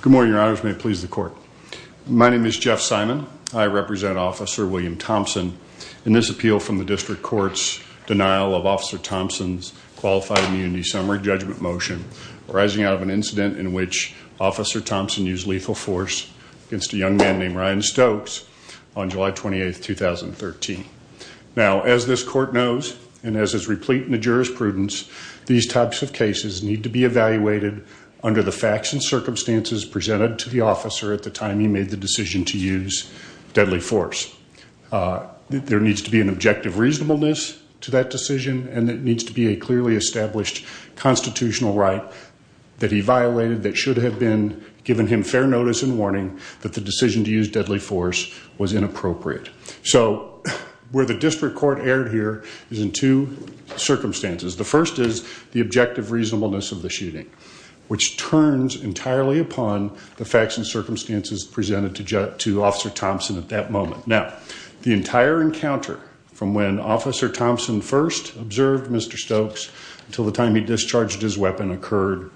Good morning, Your Honors. May it please the Court. My name is Jeff Simon. I represent Officer William Thompson in this appeal from the District Court's denial of Officer Thompson's Qualified Immunity Summary Judgment Motion arising out of an incident in which Officer Thompson used lethal force against a young man named Ryan Stokes on July 28, 2013. Now, as this Court knows, and as is replete in the jurisprudence, these types of cases need to be evaluated under the FACTS and circumstances presented to the officer at the time he made the decision to use deadly force. There needs to be an objective reasonableness to that decision and it needs to be a clearly established constitutional right that he violated that should have been given him fair notice and warning that the decision to use deadly force was inappropriate. So where the District Court erred here is in two circumstances. The first is the objective and the second is based entirely upon the FACTS and circumstances presented to Officer Thompson at that moment. Now, the entire encounter from when Officer Thompson first observed Mr. Stokes until the time he discharged his weapon occurred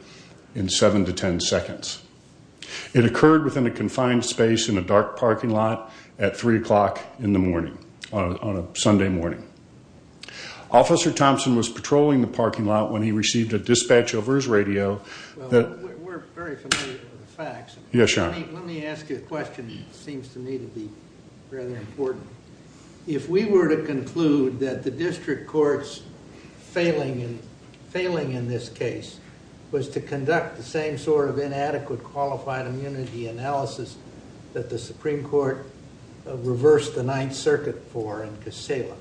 in seven to ten seconds. It occurred within a confined space in a dark parking lot at three o'clock in the morning on a Sunday morning. Officer Thompson was patrolling the parking lot when he received a dispatch over his weapon. Let me ask you a question that seems to me to be rather important. If we were to conclude that the District Court's failing in this case was to conduct the same sort of inadequate qualified immunity analysis that the Supreme Court reversed the Ninth Circuit for in Kissela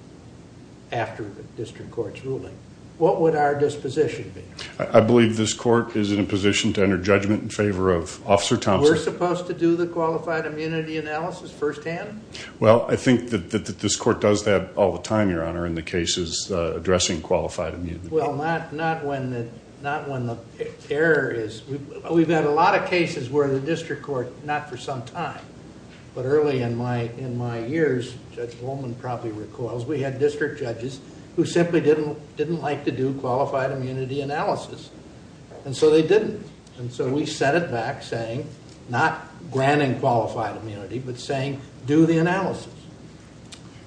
after the District Court's ruling, what would our disposition be? I believe this court is in a position to enter judgment in favor of Officer Thompson. We're supposed to do the qualified immunity analysis firsthand? Well, I think that this court does that all the time, Your Honor, in the cases addressing qualified immunity. Well, not when the error is... We've had a lot of cases where the District Court, not for some time, but early in my years, Judge Holman probably recalls, we had district judges who simply didn't like to do qualified immunity analysis. And so they didn't. And so we set it back saying, not granting qualified immunity, but saying do the analysis.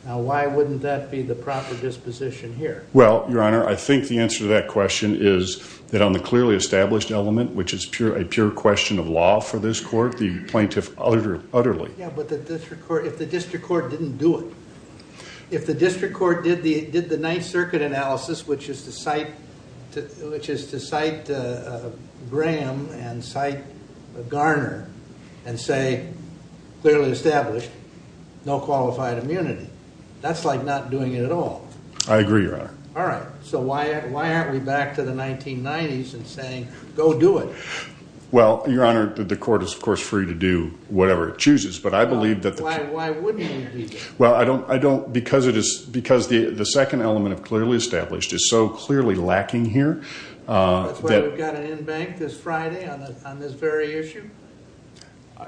Now why wouldn't that be the proper disposition here? Well, Your Honor, I think the answer to that question is that on the clearly established element, which is a pure question of law for this court, the plaintiff utterly... Yeah, but if the District Court didn't do it, if the District Court did the Ninth Circuit analysis, which is to cite Graham and cite Garner and say, clearly established, no qualified immunity, that's like not doing it at all. I agree, Your Honor. All right, so why aren't we back to the 1990s and saying, go do it? Well, Your Honor, the court is, of course, free to do whatever it chooses, but I believe that... Why wouldn't it be? Well, I don't... because it is... because the the second element of clearly established is so clearly lacking here that... That's why we've got an in-bank this Friday on this very issue?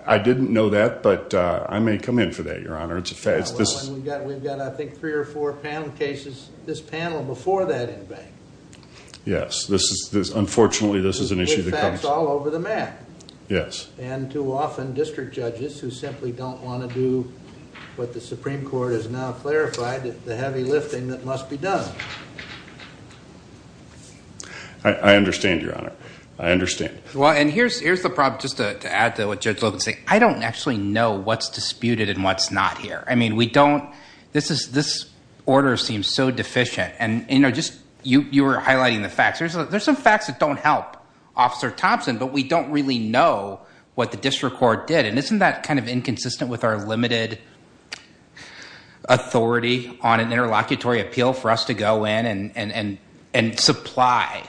I didn't know that, but I may come in for that, Your Honor. It's a fact... We've got, I think, three or four panel cases, this panel, before that in-bank. Yes, this is, unfortunately, this is an issue that... It's all over the map. Yes. And too often, District judges who simply don't want to do what the Supreme Court has now clarified, the I understand, Your Honor. I understand. Well, and here's the problem, just to add to what Judge Logan said. I don't actually know what's disputed and what's not here. I mean, we don't... This order seems so deficient and, you know, just... You were highlighting the facts. There's some facts that don't help Officer Thompson, but we don't really know what the District Court did, and isn't that kind of inconsistent with our limited authority on an interlocutory appeal for us to go in and supply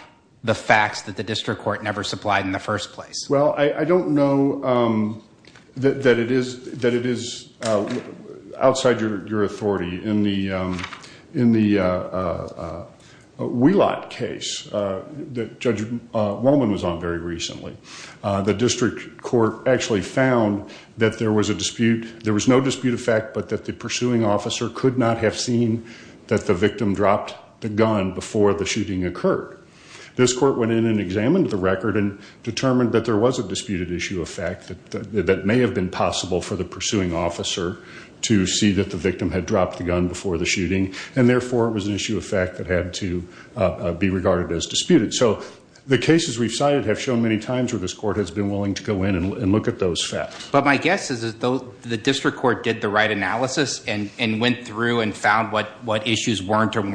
the facts that the District Court never supplied in the first place? Well, I don't know that it is outside your authority in the Wheelock case that Judge Wallman was on very recently. The District Court actually found that there was a dispute. There was no dispute of fact, but that the pursuing officer could not have seen that the victim dropped the gun before the shooting occurred. This court went in and examined the record and determined that there was a disputed issue of fact that may have been possible for the pursuing officer to see that the victim had dropped the gun before the shooting, and therefore, it was an issue of fact that had to be regarded as disputed. So the cases we've cited have shown many times where this court has been willing to go in and look at those facts. But my guess is that the District Court did an analysis and went through and found what issues were and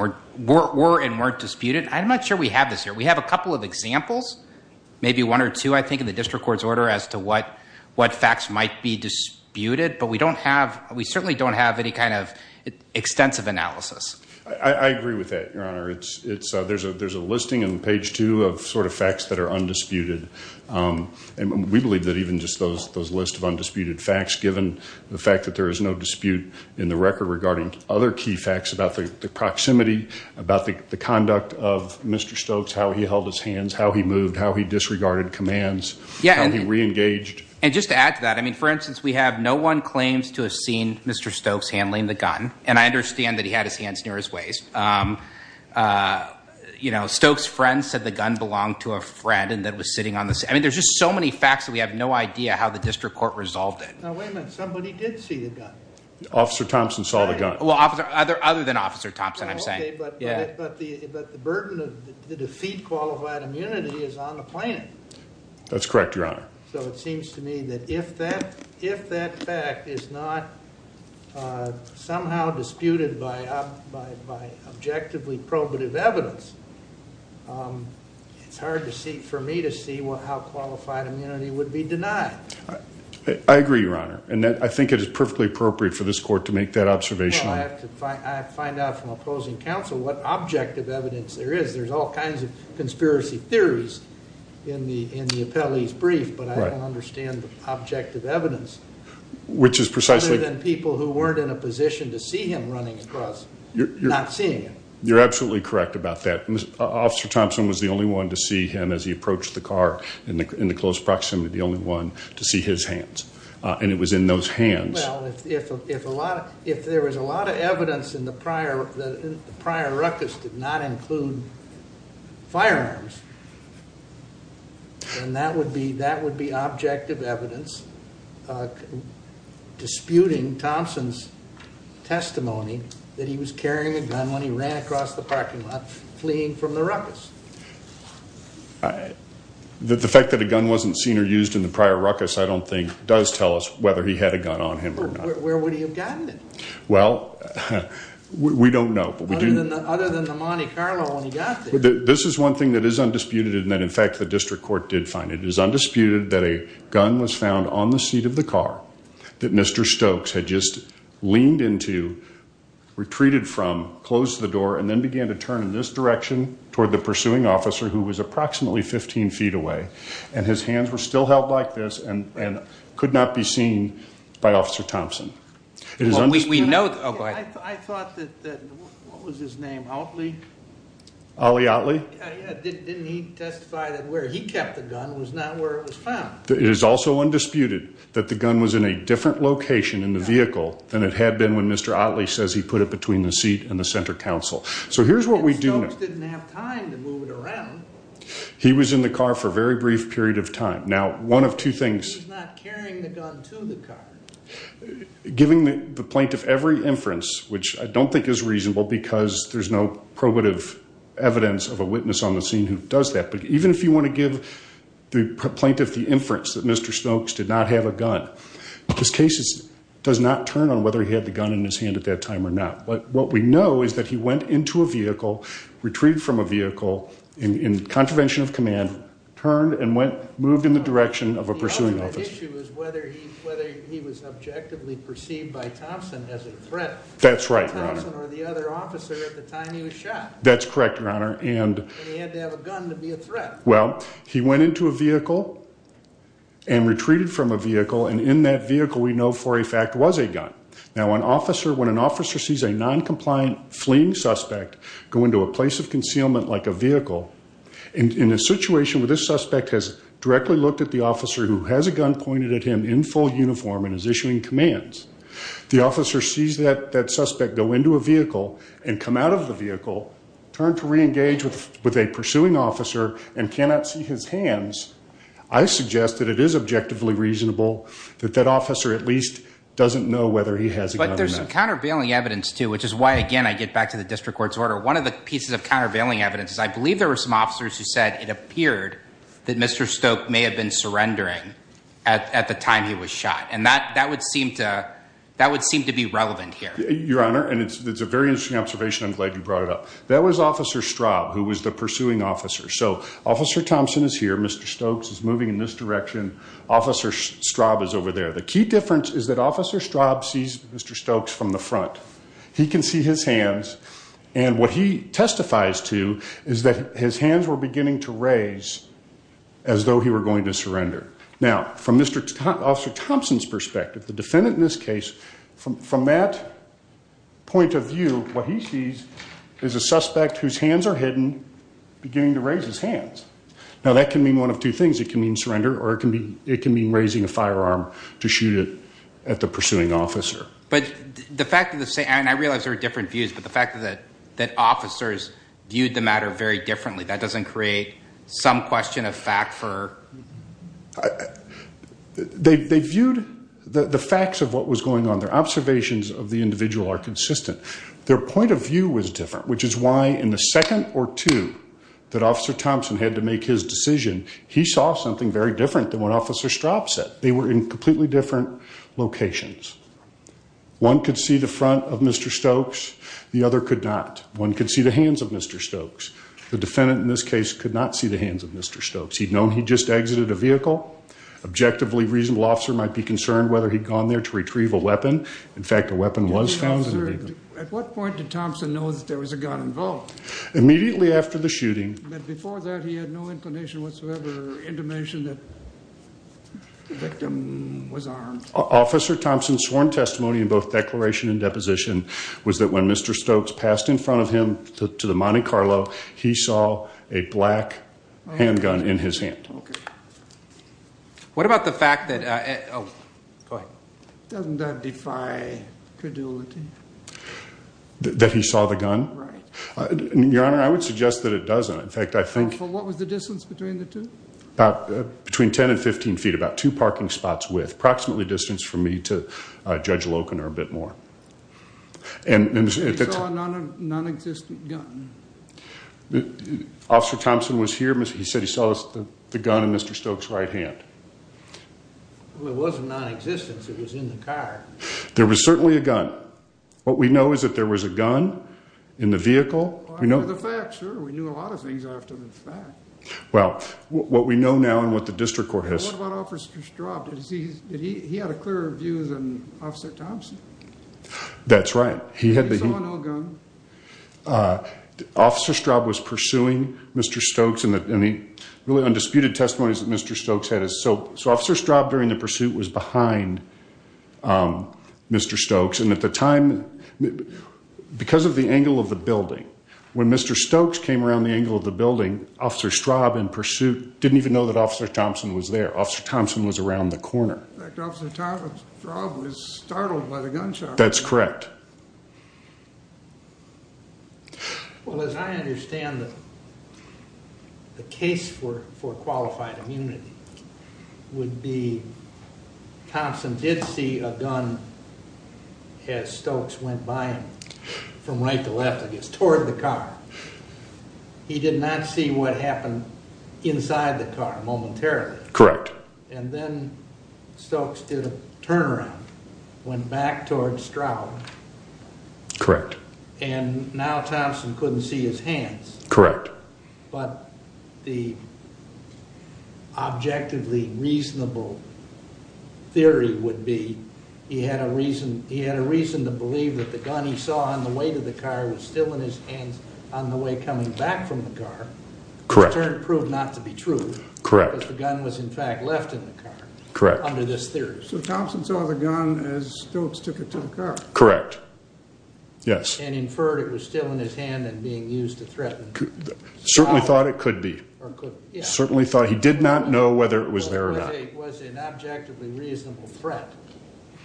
weren't disputed. I'm not sure we have this here. We have a couple of examples, maybe one or two, I think, in the District Court's order as to what facts might be disputed, but we don't have, we certainly don't have any kind of extensive analysis. I agree with that, Your Honor. There's a listing on page two of sort of facts that are undisputed, and we believe that even just those lists of in the record regarding other key facts about the proximity, about the conduct of Mr. Stokes, how he held his hands, how he moved, how he disregarded commands, how he reengaged. And just to add to that, I mean, for instance, we have no one claims to have seen Mr. Stokes handling the gun, and I understand that he had his hands near his waist. You know, Stokes' friend said the gun belonged to a friend and that was sitting on the, I mean, there's just so many facts that we have no idea how the District Court resolved it. Now, wait a minute, somebody did see the gun. Officer Thompson saw the gun. Well, other than Officer Thompson, I'm saying. Okay, but the burden of the defeat qualified immunity is on the plaintiff. That's correct, Your Honor. So it seems to me that if that fact is not somehow disputed by objectively probative evidence, it's hard for me to see how qualified immunity would be denied. I agree, Your Honor, and I think it is perfectly appropriate for this court to make that observation. Well, I have to find out from opposing counsel what objective evidence there is. There's all kinds of conspiracy theories in the appellee's brief, but I don't understand the objective evidence. Which is precisely. Other than people who weren't in a position to see him running across, not seeing him. You're absolutely correct about that. Officer Thompson was the only one to see him as he approached the car in the close proximity. The only one to see his hands and it was in those hands. Well, if there was a lot of evidence in the prior, the prior ruckus did not include firearms. And that would be objective evidence that was disputing Thompson's testimony that he was carrying a gun when he ran across the parking lot fleeing from the ruckus. The fact that a gun wasn't seen or used in the prior ruckus, I don't think, does tell us whether he had a gun on him or not. Where would he have gotten it? Well, we don't know. Other than the Monte Carlo when he got there. This is one thing that is undisputed and that, in fact, the district court did find. It is undisputed that a gun was found on the seat of the car that Mr. Stokes had just leaned into, retreated from, closed the door, and then began to turn in this direction toward the pursuing officer who was approximately 15 feet away. And his hands were still held like this and could not be seen by Officer Thompson. We know, oh, go ahead. I thought that, what was his name, Otley? Ollie Otley? Didn't he testify that where he kept the gun was not where it was found? It is also undisputed that the gun was in a different location in the vehicle than it had been when Mr. Otley says he put it between the seat and the center council. So here's what we do. Stokes didn't have time to move it around. He was in the car for a very brief period of time. Now, one of two things. He was not carrying the gun to the car. Giving the plaintiff every inference, which I don't think is reasonable because there's no probative evidence of a witness on the scene who does that. But even if you want to give the plaintiff the inference that Mr. Stokes did not have a gun, this case does not turn on whether he had the gun in his hand at that time or not. But what we know is that he went into a vehicle, retreated from a vehicle in contravention of command, turned and moved in the direction of a pursuing officer. The issue is whether he was objectively perceived by Thompson as a threat. That's right, Your Honor. Thompson or the other officer at the time he was shot. That's correct, Your Honor. And he had to have a gun to be a threat. Well, he went into a vehicle and retreated from a vehicle. And in that vehicle, we know for a fact was a gun. Now, when an officer sees a non-compliant fleeing suspect go into a place of concealment like a vehicle, and in a situation where this suspect has directly looked at the officer who has a gun pointed at him in full uniform and is issuing commands, the officer sees that suspect go into a vehicle and come out of the vehicle, turn to re-engage with a pursuing officer and cannot see his hands, I suggest that it is objectively reasonable that that officer at least doesn't know whether he has a gun. But there's some countervailing evidence, too, which is why, again, I get back to the district court's order. One of the pieces of countervailing evidence is I believe there were some officers who said it appeared that Mr. Stokes may have been surrendering at the time he was shot. And that would seem to be relevant here. Your Honor, and it's a very interesting observation. I'm glad you brought it up. That was Officer Straub, who was the pursuing officer. So Officer Thompson is here. Mr. Stokes is moving in this direction. Officer Straub is over there. The key difference is that Officer Straub sees Mr. Stokes from the front. He can see his hands. And what he testifies to is that his hands were beginning to raise as though he were going to surrender. Now, from Officer Thompson's perspective, the defendant in this case, from that point of view, what he sees is a suspect whose hands are hidden beginning to raise his hands. Now, that can mean one of two things. It can mean surrender or it can mean raising a firearm to shoot it at the pursuing officer. But the fact of the same, and I realize there are different views, but the fact that officers viewed the matter very differently, that doesn't create some question of fact for... They viewed the facts of what was going on. Their observations of the individual are consistent. Their point of view was different, which is why in the second or two that Officer Thompson had to make his decision, he saw something very different than when Officer Straub said. They were in completely different locations. One could see the front of Mr. Stokes. The other could not. One could see the hands of Mr. Stokes. The defendant in this case could not see the hands of Mr. Stokes. He'd known he just exited a vehicle. Objectively, reasonable officer might be concerned whether he'd gone there to retrieve a weapon. In fact, a weapon was found. At what point did Thompson know that there was a gun involved? Immediately after the shooting. But before that, he had no inclination whatsoever, intimation that the victim was armed? Officer Thompson's sworn testimony in both declaration and deposition was that when Mr. Stokes passed in front of him to the Monte Carlo, he saw a black handgun in his hand. What about the fact that... Doesn't that defy credulity? That he saw the gun? Your Honor, I would suggest that it doesn't. In fact, I think... What was the distance between the two? Between 10 and 15 feet. About two parking spots' width. Approximately distance for me to Judge Loken or a bit more. He saw a non-existent gun? Officer Thompson was here. He said he saw the gun in Mr. Stokes' right hand. Well, it wasn't non-existent. It was in the car. There was certainly a gun. What we know is that there was a gun in the vehicle. Well, after the fact, sir. We knew a lot of things after the fact. Well, what we know now and what the district court has... What about Officer Straub? He had a clearer view than Officer Thompson. That's right. He saw no gun. Officer Straub was pursuing Mr. Stokes and the really undisputed testimonies that Mr. Stokes had. So Officer Straub during the pursuit was behind Mr. Stokes. And at the time, because of the angle of the building, when Mr. Stokes came around the angle of the building, Officer Straub in pursuit didn't even know that Officer Thompson was there. Officer Thompson was around the corner. In fact, Officer Straub was startled by the gunshot. That's correct. Well, as I understand it, the case for qualified immunity would be Thompson did see a gun as Stokes went by him from right to left, I guess, toward the car. He did not see what happened inside the car momentarily. Correct. And then Stokes did a turnaround, went back towards Straub. Correct. And now Thompson couldn't see his hands. Correct. But the objectively reasonable theory would be he had a reason to believe that the gun he saw on the way to the car was still in his hands on the way coming back from the car. Correct. Which in turn proved not to be true. Correct. The gun was in fact left in the car. Correct. Under this theory. So Thompson saw the gun as Stokes took it to the car. Correct. Yes. And inferred it was still in his hand and being used to threaten Straub. Certainly thought it could be. Certainly thought he did not know whether it was there or not. Was an objectively reasonable threat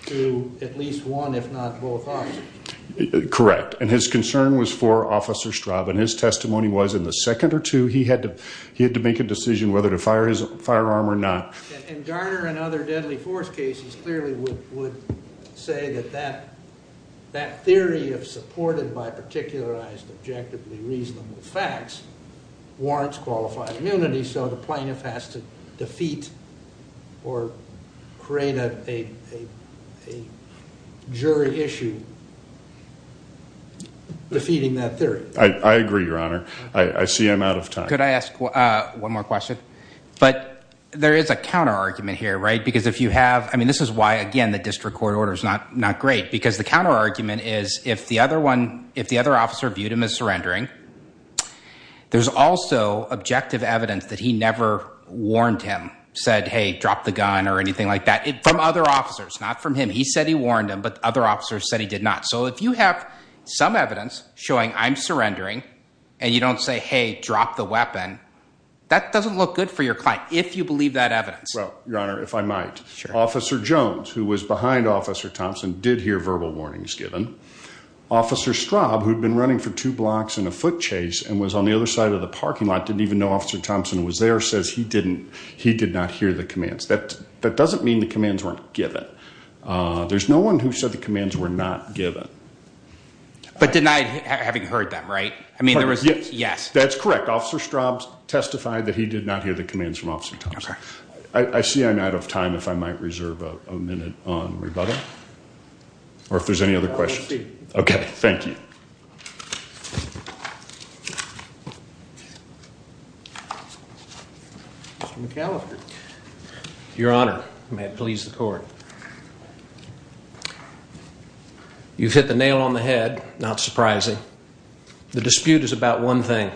to at least one, if not both officers. Correct. And his concern was for Officer Straub. And his testimony was in the second or two, he had to make a decision whether to fire his firearm or not. And Garner and other deadly force cases clearly would say that that theory of supported by particularized objectively reasonable facts warrants qualified immunity. So the plaintiff has to defeat or create a jury issue defeating that theory. I agree, Your Honor. I see I'm out of time. Could I ask one more question? But there is a counter argument here, right? Because if you have, I mean, this is why, again, the district court order is not great. Because the counter argument is if the other officer viewed him as surrendering, there's also objective evidence that he never warned him, said, hey, drop the gun or anything like that from other officers, not from him. He said he warned him, but other officers said he did not. So if you have some evidence showing I'm surrendering and you don't say, hey, drop the weapon, that doesn't look good for your client if you believe that evidence. Well, Your Honor, if I might. Officer Jones, who was behind Officer Thompson, did hear verbal warnings given. Officer Straub, who'd been running for two blocks in a foot chase and was on the other side of the parking lot, didn't even know Officer Thompson was there, says he did not hear the commands. That doesn't mean the commands weren't given. There's no one who said the commands were not given. But denied having heard them, right? I mean, there was, yes. That's correct. Officer Straub testified that he did not hear the commands from Officer Thompson. I see I'm out of time if I might reserve a minute on rebuttal. Or if there's any other questions. Okay, thank you. Mr. McAllister. Your Honor, may it please the court. You've hit the nail on the head, not surprising. The dispute is about one thing.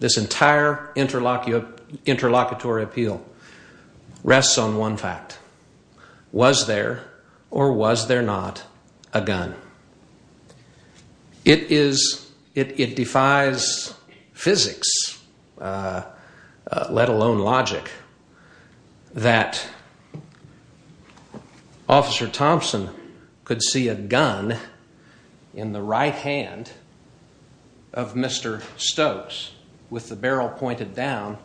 This entire interlocutory appeal rests on one fact. Was there, or was there not, a gun? It defies physics, let alone logic, that Officer Thompson could see a gun in the right hand of Mr. Stokes with the barrel pointed down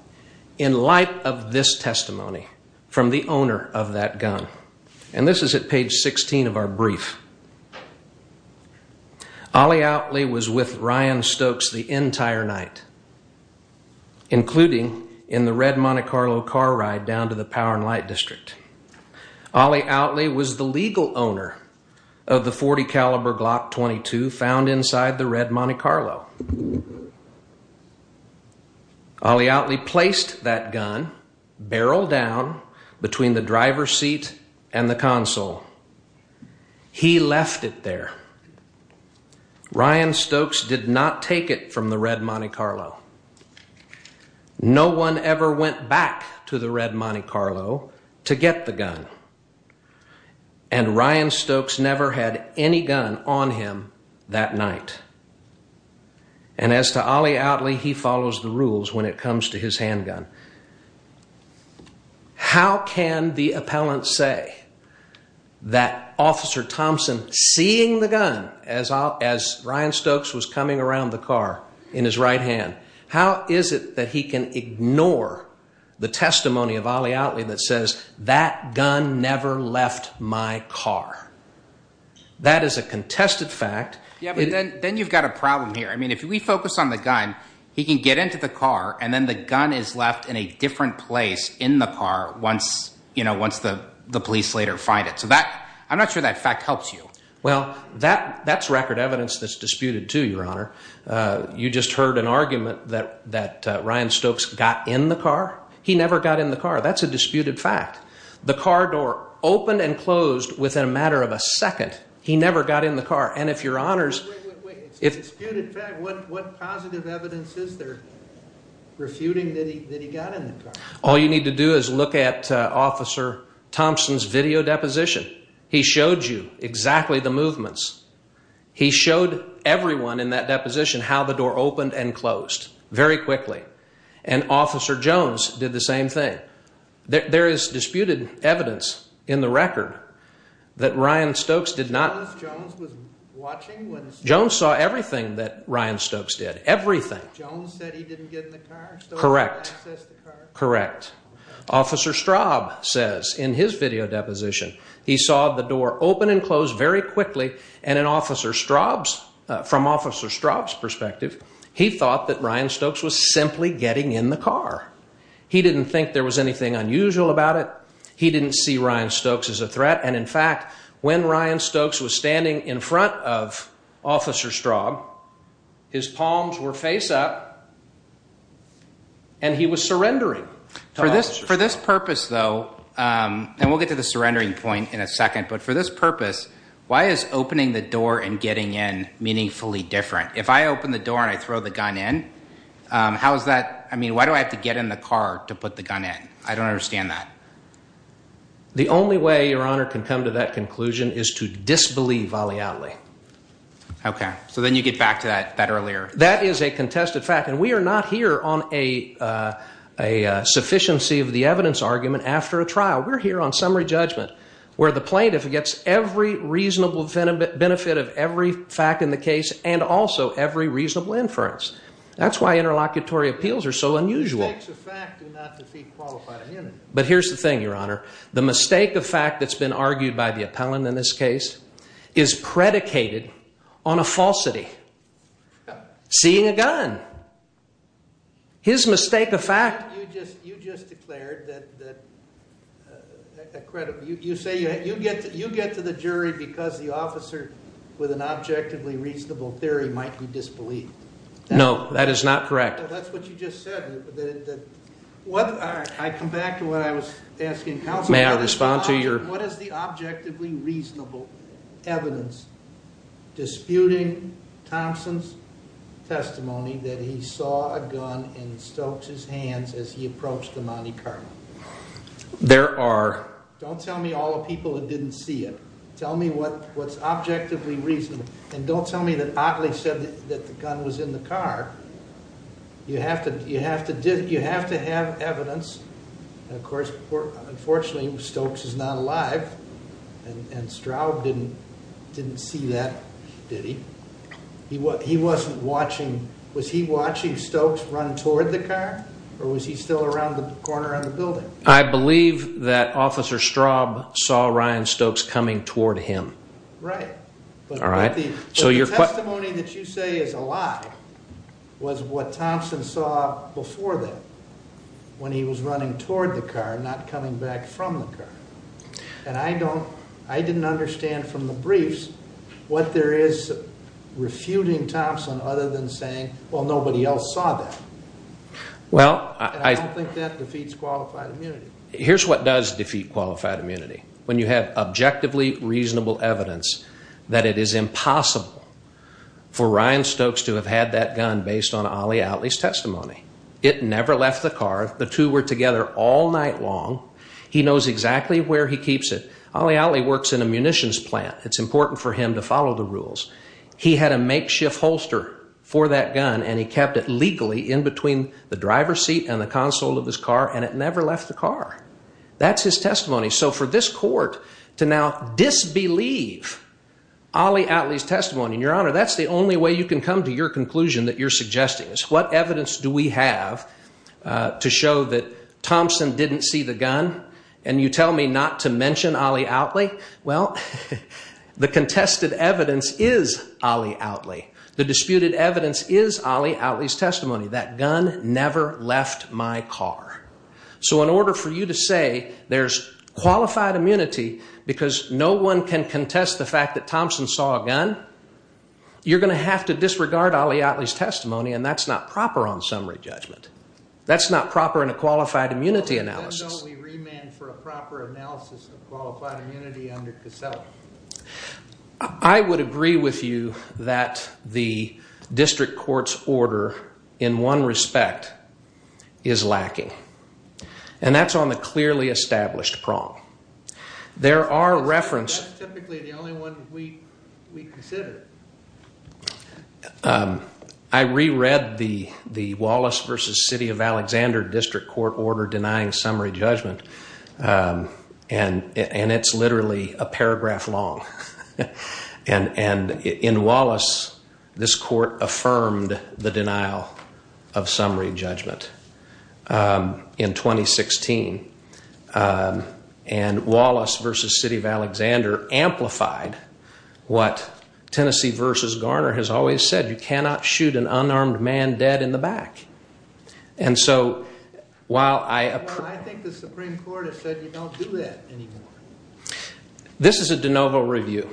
in light of this testimony from the owner of that gun. And this is at page 16 of our brief. Ollie Outley was with Ryan Stokes the entire night, including in the red Monte Carlo car ride down to the Power and Light District. Ollie Outley was the legal owner of the .40 caliber Glock 22 found inside the red Monte Carlo. Ollie Outley placed that gun, barrel down, between the driver's seat and the console. He left it there. Ryan Stokes did not take it from the red Monte Carlo. No one ever went back to the red Monte Carlo to get the gun. And Ryan Stokes never had any gun on him that night. And as to Ollie Outley, he follows the rules when it comes to his handgun. How can the appellant say that Officer Thompson, seeing the gun as Ryan Stokes was coming around the car in his right hand, how is it that he can ignore the testimony of Ollie Outley that says, that gun never left my car? That is a contested fact. Yeah, but then you've got a problem here. I mean, if we focus on the gun, he can get into the car and then the gun is left in the car. In a different place in the car once, you know, once the police later find it. So that, I'm not sure that fact helps you. Well, that's record evidence that's disputed too, Your Honor. You just heard an argument that Ryan Stokes got in the car. He never got in the car. That's a disputed fact. The car door opened and closed within a matter of a second. He never got in the car. Wait, wait, wait, it's a disputed fact. What positive evidence is there refuting that he got in the car? All you need to do is look at Officer Thompson's video deposition. He showed you exactly the movements. He showed everyone in that deposition how the door opened and closed very quickly. And Officer Jones did the same thing. There is disputed evidence in the record that Ryan Stokes did not. Jones was watching? Jones saw everything that Ryan Stokes did, everything. Jones said he didn't get in the car? Correct, correct. Officer Straub says in his video deposition, he saw the door open and close very quickly. And in Officer Straub's, from Officer Straub's perspective, he thought that Ryan Stokes was simply getting in the car. He didn't think there was anything unusual about it. He didn't see Ryan Stokes as a threat. And in fact, when Ryan Stokes was standing in front of Officer Straub, his palms were face up. And he was surrendering. For this purpose, though, and we'll get to the surrendering point in a second. But for this purpose, why is opening the door and getting in meaningfully different? If I open the door and I throw the gun in, how is that? I mean, why do I have to get in the car to put the gun in? I don't understand that. The only way your honor can come to that conclusion is to disbelieve Ali Ali. Okay, so then you get back to that earlier. That is a contested fact. And we are not here on a sufficiency of the evidence argument after a trial. We're here on summary judgment, where the plaintiff gets every reasonable benefit of every fact in the case and also every reasonable inference. That's why interlocutory appeals are so unusual. The mistakes of fact do not defeat qualified immunity. But here's the thing, your honor. The mistake of fact that's been argued by the appellant in this case is predicated on a falsity. Seeing a gun. His mistake of fact. You just declared that you get to the jury because the officer with an objectively reasonable theory might be disbelieved. No, that is not correct. That's what you just said. I come back to what I was asking. What is the objectively reasonable evidence disputing Thompson's testimony that he saw a gun in Stokes's hands as he approached the Monte Carlo? There are. Don't tell me all the people that didn't see it. Tell me what's objectively reasonable. And don't tell me that Atlee said that the gun was in the car. You have to have evidence. Of course, unfortunately, Stokes is not alive. And Straub didn't see that, did he? He wasn't watching. Was he watching Stokes run toward the car? Or was he still around the corner of the building? I believe that Officer Straub saw Ryan Stokes coming toward him. Right. All right. So your testimony that you say is a lie was what Thompson saw before that. When he was running toward the car, not coming back from the car. And I don't, I didn't understand from the briefs what there is refuting Thompson other than saying, well, nobody else saw that. Well, I don't think that defeats qualified immunity. Here's what does defeat qualified immunity. When you have objectively reasonable evidence that it is impossible for Ryan Stokes to have had that gun based on Ali Atlee's testimony. It never left the car. The two were together all night long. He knows exactly where he keeps it. Ali Atlee works in a munitions plant. It's important for him to follow the rules. He had a makeshift holster for that gun, and he kept it legally in between the driver's seat and the console of his car, and it never left the car. That's his testimony. So for this court to now disbelieve Ali Atlee's testimony, your honor, that's the only way you can come to your conclusion that you're suggesting is what evidence do we have to show that Thompson didn't see the gun and you tell me not to mention Ali Atlee. Well, the contested evidence is Ali Atlee. The disputed evidence is Ali Atlee's testimony. That gun never left my car. So in order for you to say there's qualified immunity because no one can contest the fact that Thompson saw a gun, you're going to have to disregard Ali Atlee's testimony, and that's not proper on summary judgment. That's not proper in a qualified immunity analysis. I would agree with you that the district court's order in one respect is lacking. And that's on the clearly established prong. There are references- That's typically the only one we consider. I reread the Wallace v. City of Alexander district court order denying summary judgment, and it's literally a paragraph long, and in Wallace, this court affirmed the denial of summary judgment. In 2016, and Wallace v. City of Alexander amplified what Tennessee v. Garner has always said. You cannot shoot an unarmed man dead in the back. And so while I- Well, I think the Supreme Court has said you don't do that anymore. This is a de novo review.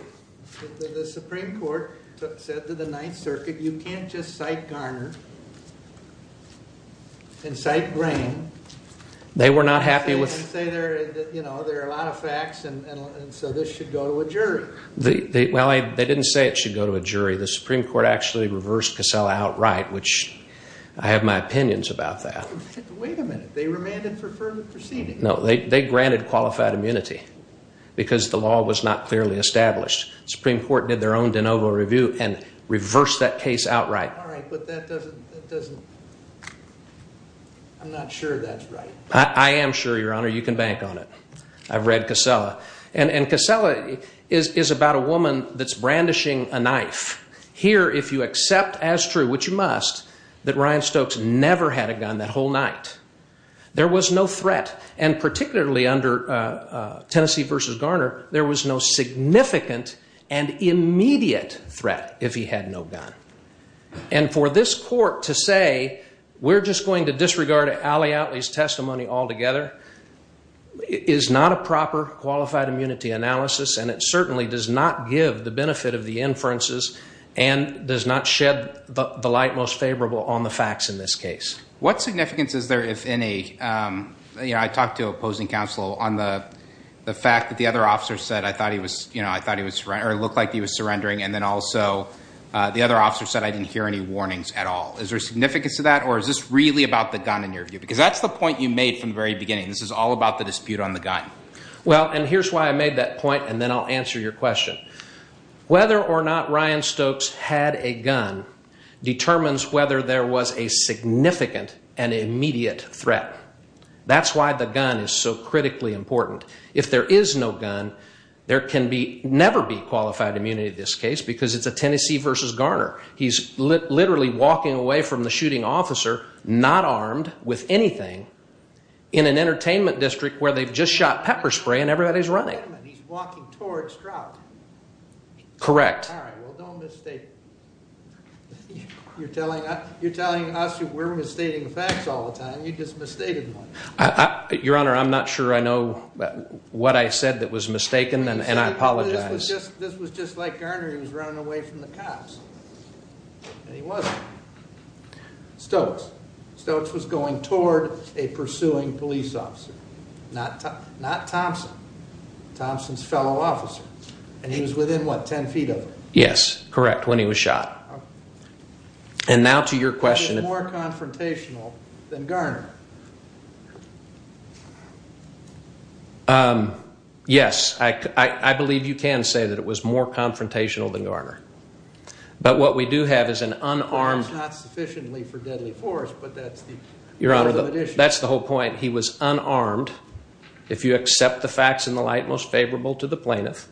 The Supreme Court said to the Ninth Circuit, you can't just cite Garner and cite Grain. They were not happy with- They didn't say there are a lot of facts, and so this should go to a jury. Well, they didn't say it should go to a jury. The Supreme Court actually reversed Casella outright, which I have my opinions about that. Wait a minute. They remanded for further proceedings. No, they granted qualified immunity because the law was not clearly established. The Supreme Court did their own de novo review and reversed that case outright. All right, but that doesn't make sense. It doesn't. I'm not sure that's right. I am sure, Your Honor. You can bank on it. I've read Casella, and Casella is about a woman that's brandishing a knife. Here, if you accept as true, which you must, that Ryan Stokes never had a gun that whole night. There was no threat, and particularly under Tennessee v. Garner, there was no significant and immediate threat if he had no gun. And for this court to say, we're just going to disregard Allie Outley's testimony altogether is not a proper qualified immunity analysis, and it certainly does not give the benefit of the inferences and does not shed the light most favorable on the facts in this case. What significance is there, if any? I talked to opposing counsel on the fact that the other officer said, I thought he looked like he was surrendering, and then also the other officer said, I didn't hear any warnings at all. Is there significance to that, or is this really about the gun in your view? Because that's the point you made from the very beginning. This is all about the dispute on the gun. Well, and here's why I made that point, and then I'll answer your question. Whether or not Ryan Stokes had a gun determines whether there was a significant and immediate threat. That's why the gun is so critically important. If there is no gun, there can never be qualified immunity in this case, because it's a Tennessee versus Garner. He's literally walking away from the shooting officer, not armed with anything, in an entertainment district where they've just shot pepper spray and everybody's running. He's walking towards Stroud. Correct. All right, well, don't misstate. You're telling us we're misstating facts all the time. You just misstated one. Your Honor, I'm not sure I know what I said that was mistaken, and I apologize. This was just like Garner. He was running away from the cops, and he wasn't. Stokes was going toward a pursuing police officer, not Thompson, Thompson's fellow officer, and he was within, what, 10 feet of him? Yes, correct, when he was shot. And now to your question. More confrontational than Garner. Yes, I believe you can say that it was more confrontational than Garner, but what we do have is an unarmed- That's not sufficiently for deadly force, but that's the- Your Honor, that's the whole point. He was unarmed. If you accept the facts in the light most favorable to the plaintiff,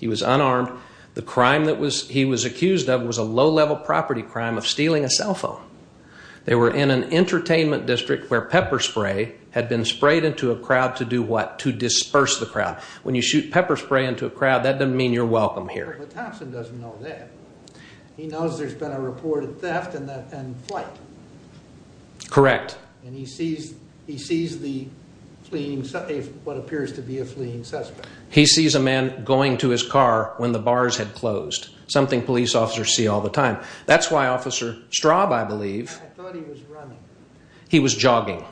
he was unarmed. The crime that he was accused of was a low-level property crime of stealing a cell phone. They were in an entertainment district where pepper spray had been sprayed into a crowd to do what? To disperse the crowd. When you shoot pepper spray into a crowd, that doesn't mean you're welcome here. But Thompson doesn't know that. He knows there's been a reported theft and flight. Correct. And he sees the fleeing, what appears to be a fleeing suspect. He sees a man going to his car when the bars had closed, something police officers see all the time. That's why Officer Straub, I believe- I thought he was running. He was jogging.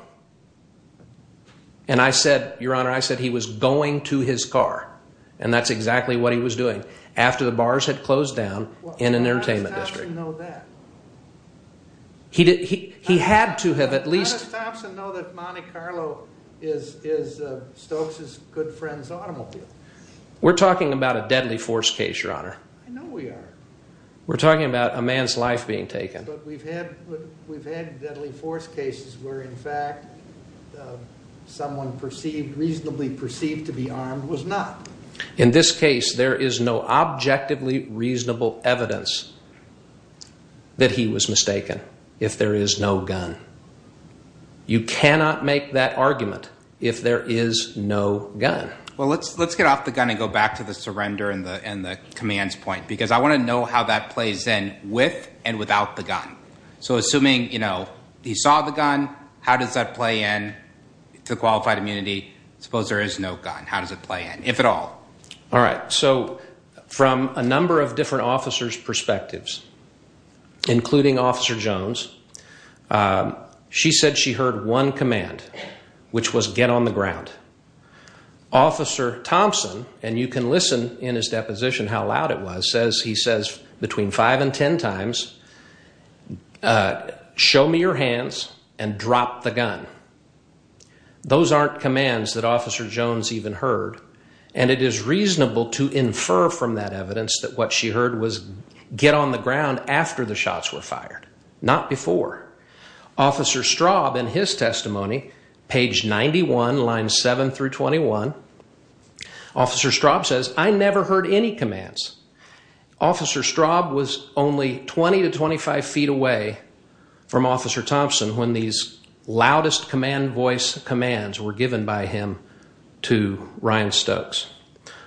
And I said, Your Honor, I said he was going to his car. And that's exactly what he was doing. After the bars had closed down in an entertainment district. How does Thompson know that? He had to have at least- How does Thompson know that Monte Carlo is Stokes' good friend's automobile? We're talking about a deadly force case, Your Honor. I know we are. We're talking about a man's life being taken. But we've had deadly force cases where, in fact, someone reasonably perceived to be armed was not. In this case, there is no objectively reasonable evidence that he was mistaken if there is no gun. You cannot make that argument if there is no gun. Well, let's get off the gun and go back to the surrender and the commands point. Because I want to know how that plays in with and without the gun. So assuming, you know, he saw the gun, how does that play in to qualified immunity? Suppose there is no gun. How does it play in, if at all? All right. So from a number of different officers' perspectives, including Officer Jones, she said she heard one command, which was get on the ground. Officer Thompson, and you can listen in his deposition how loud it was, says he says between five and ten times, show me your hands and drop the gun. Those aren't commands that Officer Jones even heard. And it is reasonable to infer from that evidence that what she heard was get on the ground after the shots were fired, not before. Officer Straub, in his testimony, page 91, line 7 through 21, Officer Straub says, I never heard any commands. Officer Straub was only 20 to 25 feet away from Officer Thompson when these loudest command voice commands were given by him to Ryan Stokes.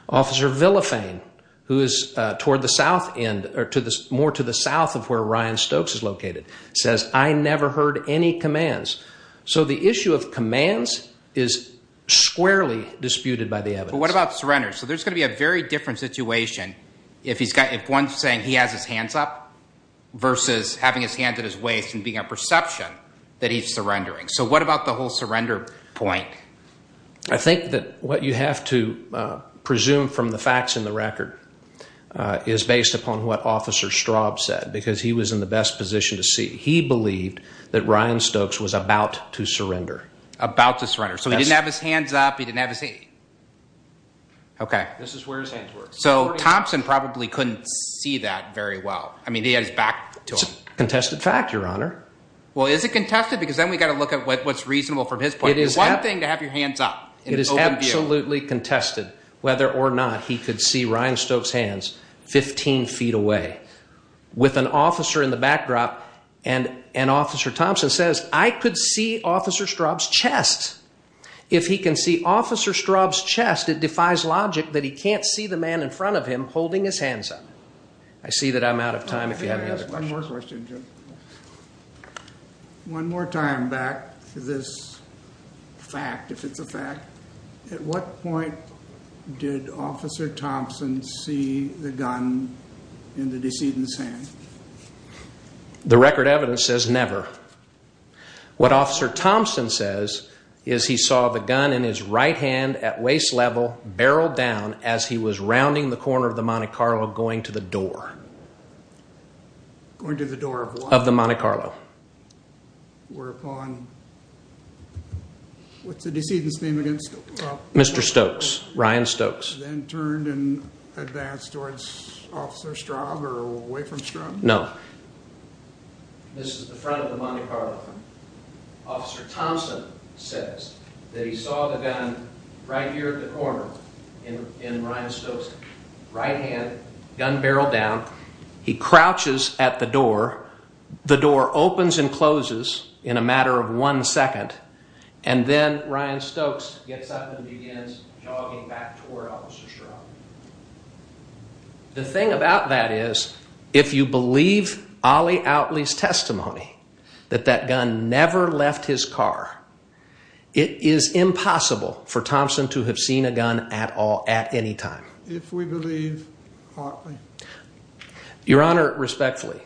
Officer Villafane, who is toward the south end, or more to the south of where Ryan Stokes is located, says, I never heard any commands. So the issue of commands is squarely disputed by the evidence. But what about surrender? So there's going to be a very different situation if one's saying he has his hands up versus having his hands at his waist and being a perception that he's surrendering. So what about the whole surrender point? I think that what you have to presume from the facts in the record is based upon what Officer Straub said, because he was in the best position to see. He believed that Ryan Stokes was about to surrender. About to surrender. So he didn't have his hands up. He didn't have his... Okay. This is where his hands were. So Thompson probably couldn't see that very well. I mean, he had his back to him. It's a contested fact, Your Honor. Well, is it contested? Because then we've got to look at what's reasonable from his point of view. One thing to have your hands up. It is absolutely contested whether or not he could see Ryan Stokes' hands 15 feet away with an officer in the backdrop. And Officer Thompson says, I could see Officer Straub's chest. If he can see Officer Straub's chest, it defies logic that he can't see the man in front of him holding his hands up. I see that I'm out of time if you have any other questions. One more question, Jim. One more time back to this fact, if it's a fact. At what point did Officer Thompson see the gun in the decedent's hand? The record evidence says never. What Officer Thompson says is he saw the gun in his right hand at waist level barreled down as he was rounding the corner of the Monte Carlo going to the door. Going to the door of what? Of the Monte Carlo. Whereupon, what's the decedent's name again? Mr. Stokes. Ryan Stokes. Then turned and advanced towards Officer Straub or away from Straub? No. This is the front of the Monte Carlo. Officer Thompson says that he saw the gun right here at the corner in Ryan Stokes' right hand, gun barreled down. He crouches at the door, the door opens and closes in a matter of one second, and then Ryan Stokes gets up and begins jogging back toward Officer Straub. The thing about that is, if you believe Ollie Outley's testimony that that gun never left his car, it is impossible for Thompson to have seen a gun at all at any time. If we believe Otley. Your Honor, respectfully,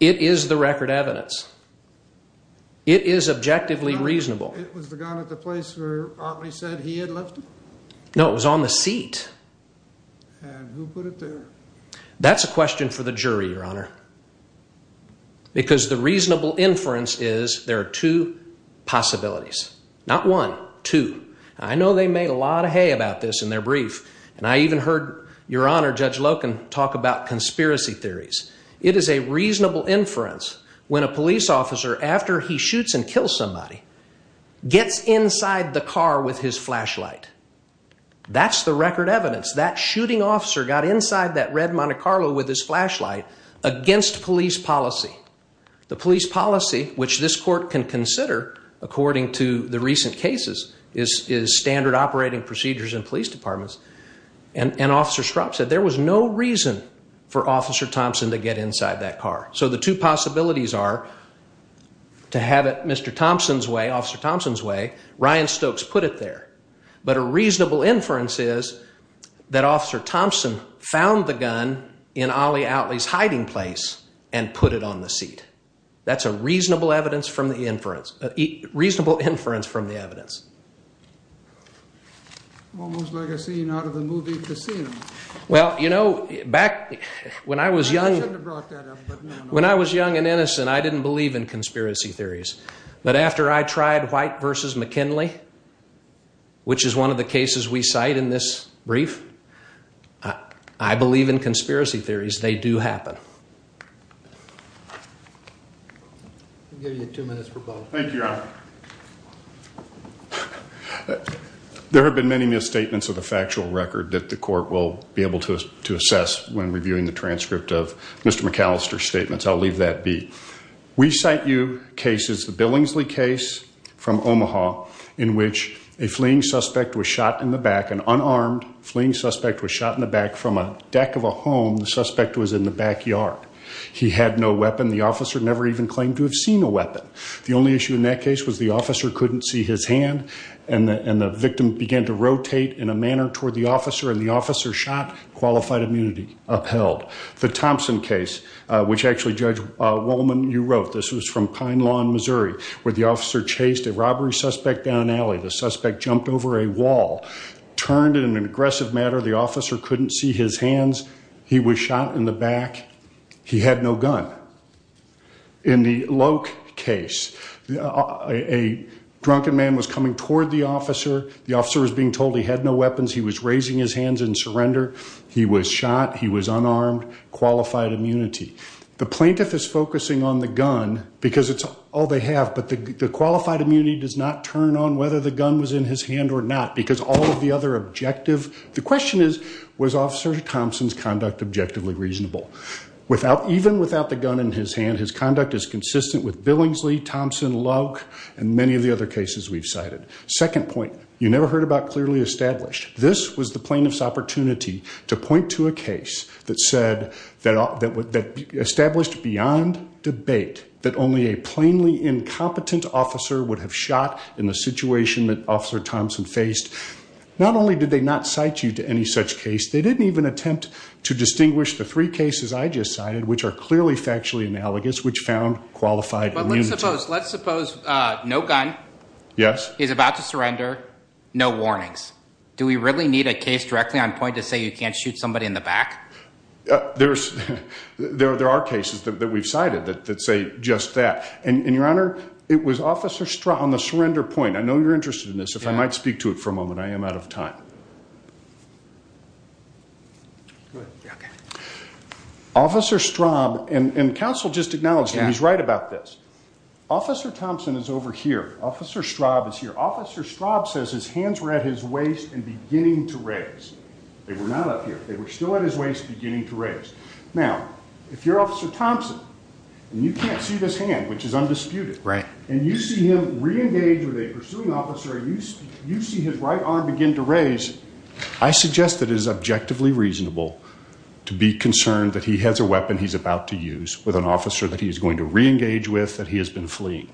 it is the record evidence. It is objectively reasonable. It was the gun at the place where Otley said he had left it? No, it was on the seat. And who put it there? That's a question for the jury, Your Honor, because the reasonable inference is there are two possibilities. Not one, two. I know they made a lot of hay about this in their brief, and I even heard Your Honor, Judge Loken, talk about conspiracy theories. It is a reasonable inference when a police officer, after he shoots and kills somebody, gets inside the car with his flashlight. That's the record evidence. That shooting officer got inside that red Monte Carlo with his flashlight against police policy. The police policy, which this court can consider, according to the recent cases, is standard operating procedures in police departments. And Officer Straub said there was no reason for Officer Thompson to get inside that car. So the two possibilities are to have it Mr. Thompson's way, Officer Thompson's way. Ryan Stokes put it there. But a reasonable inference is that Officer Thompson found the gun in Ollie Outley's hiding place and put it on the seat. That's a reasonable inference from the evidence. Almost like a scene out of a movie casino. Well, you know, when I was young and innocent, I didn't believe in conspiracy theories. But after I tried White v. McKinley, which is one of the cases we cite in this brief, I believe in conspiracy theories. They do happen. I'll give you two minutes for both. Thank you, Your Honor. There have been many misstatements of the factual record that the court will be able to assess when reviewing the transcript of Mr. McAllister's statements. I'll leave that be. We cite you cases, the Billingsley case from Omaha, in which a fleeing suspect was shot in the back, an unarmed fleeing suspect was shot in the back from a deck of a home. The suspect was in the backyard. He had no weapon. The officer never even claimed to have seen a weapon. The only issue in that case was the officer couldn't see his hand, and the victim began to rotate in a manner toward the officer, and the officer shot, qualified immunity upheld. The Thompson case, which actually Judge Wolman, you wrote, this was from Pine Lawn, Missouri, where the officer chased a robbery suspect down an alley. The suspect jumped over a wall, turned in an aggressive manner. The officer couldn't see his hands. He was shot in the back. He had no gun. In the Loke case, a drunken man was coming toward the officer. The officer was being told he had no weapons. He was raising his hands in surrender. He was shot. He was unarmed. Qualified immunity. The plaintiff is focusing on the gun because it's all they have, but the qualified immunity does not turn on whether the gun was in his hand or not because all of the other objective, the question is, was Officer Thompson's conduct objectively reasonable? Even without the gun in his hand, his conduct is consistent with Billingsley, Thompson, Loke, and many of the other cases we've cited. Second point, you never heard about clearly established. This was the plaintiff's opportunity to point to a case that established beyond debate that only a plainly incompetent officer would have shot in the situation that Officer Thompson faced. Not only did they not cite you to any such case, they didn't even attempt to distinguish the three cases I just cited, which are clearly factually analogous, which found qualified immunity. Let's suppose no gun. Yes. Is about to surrender. No warnings. Do we really need a case directly on point to say you can't shoot somebody in the back? There's, there are cases that we've cited that say just that. And your honor, it was Officer Straut on the surrender point. I know you're interested in this. If I might speak to it for a moment, I am out of time. Officer Straub and counsel just acknowledged, and he's right about this. Officer Thompson is over here. Officer Straub is here. Officer Straub says his hands were at his waist and beginning to raise. They were not up here. They were still at his waist, beginning to raise. Now, if you're Officer Thompson and you can't see this hand, which is undisputed, right? You see him re-engage with a pursuing officer, you see his right arm begin to raise. I suggest that it is objectively reasonable to be concerned that he has a weapon he's about to use with an officer that he's going to re-engage with, that he has been fleeing.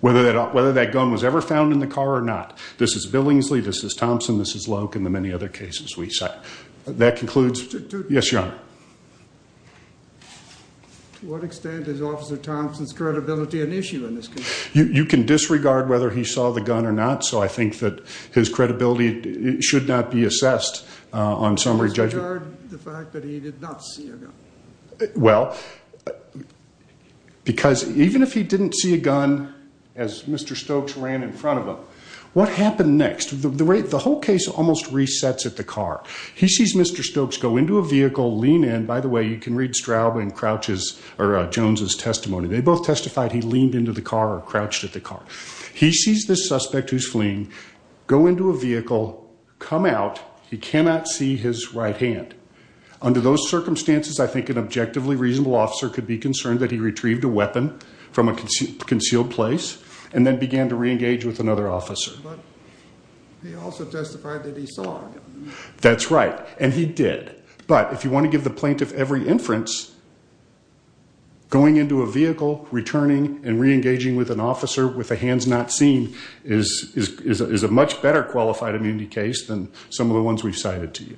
Whether that gun was ever found in the car or not. This is Billingsley. This is Thompson. This is Loke and the many other cases we cite. That concludes. Yes, your honor. To what extent is Officer Thompson's credibility an issue in this case? You can disregard whether he saw the gun or not. So I think that his credibility should not be assessed on summary judgment. You disregard the fact that he did not see a gun. Well, because even if he didn't see a gun as Mr. Stokes ran in front of him, what happened next? The whole case almost resets at the car. He sees Mr. Stokes go into a vehicle, lean in. By the way, you can read Straub and Jones' testimony. They both testified he leaned into the car or crouched at the car. He sees this suspect who's fleeing go into a vehicle, come out. He cannot see his right hand. Under those circumstances, I think an objectively reasonable officer could be concerned that he retrieved a weapon from a concealed place and then began to re-engage with another officer. But he also testified that he saw a gun. That's right, and he did. But if you want to give the plaintiff every inference, going into a vehicle, returning, and re-engaging with an officer with the hands not seen is a much better qualified immunity case than some of the ones we've cited to you.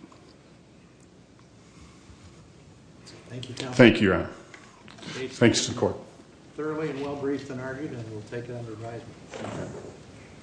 Thank you, Your Honor. Thanks to the court.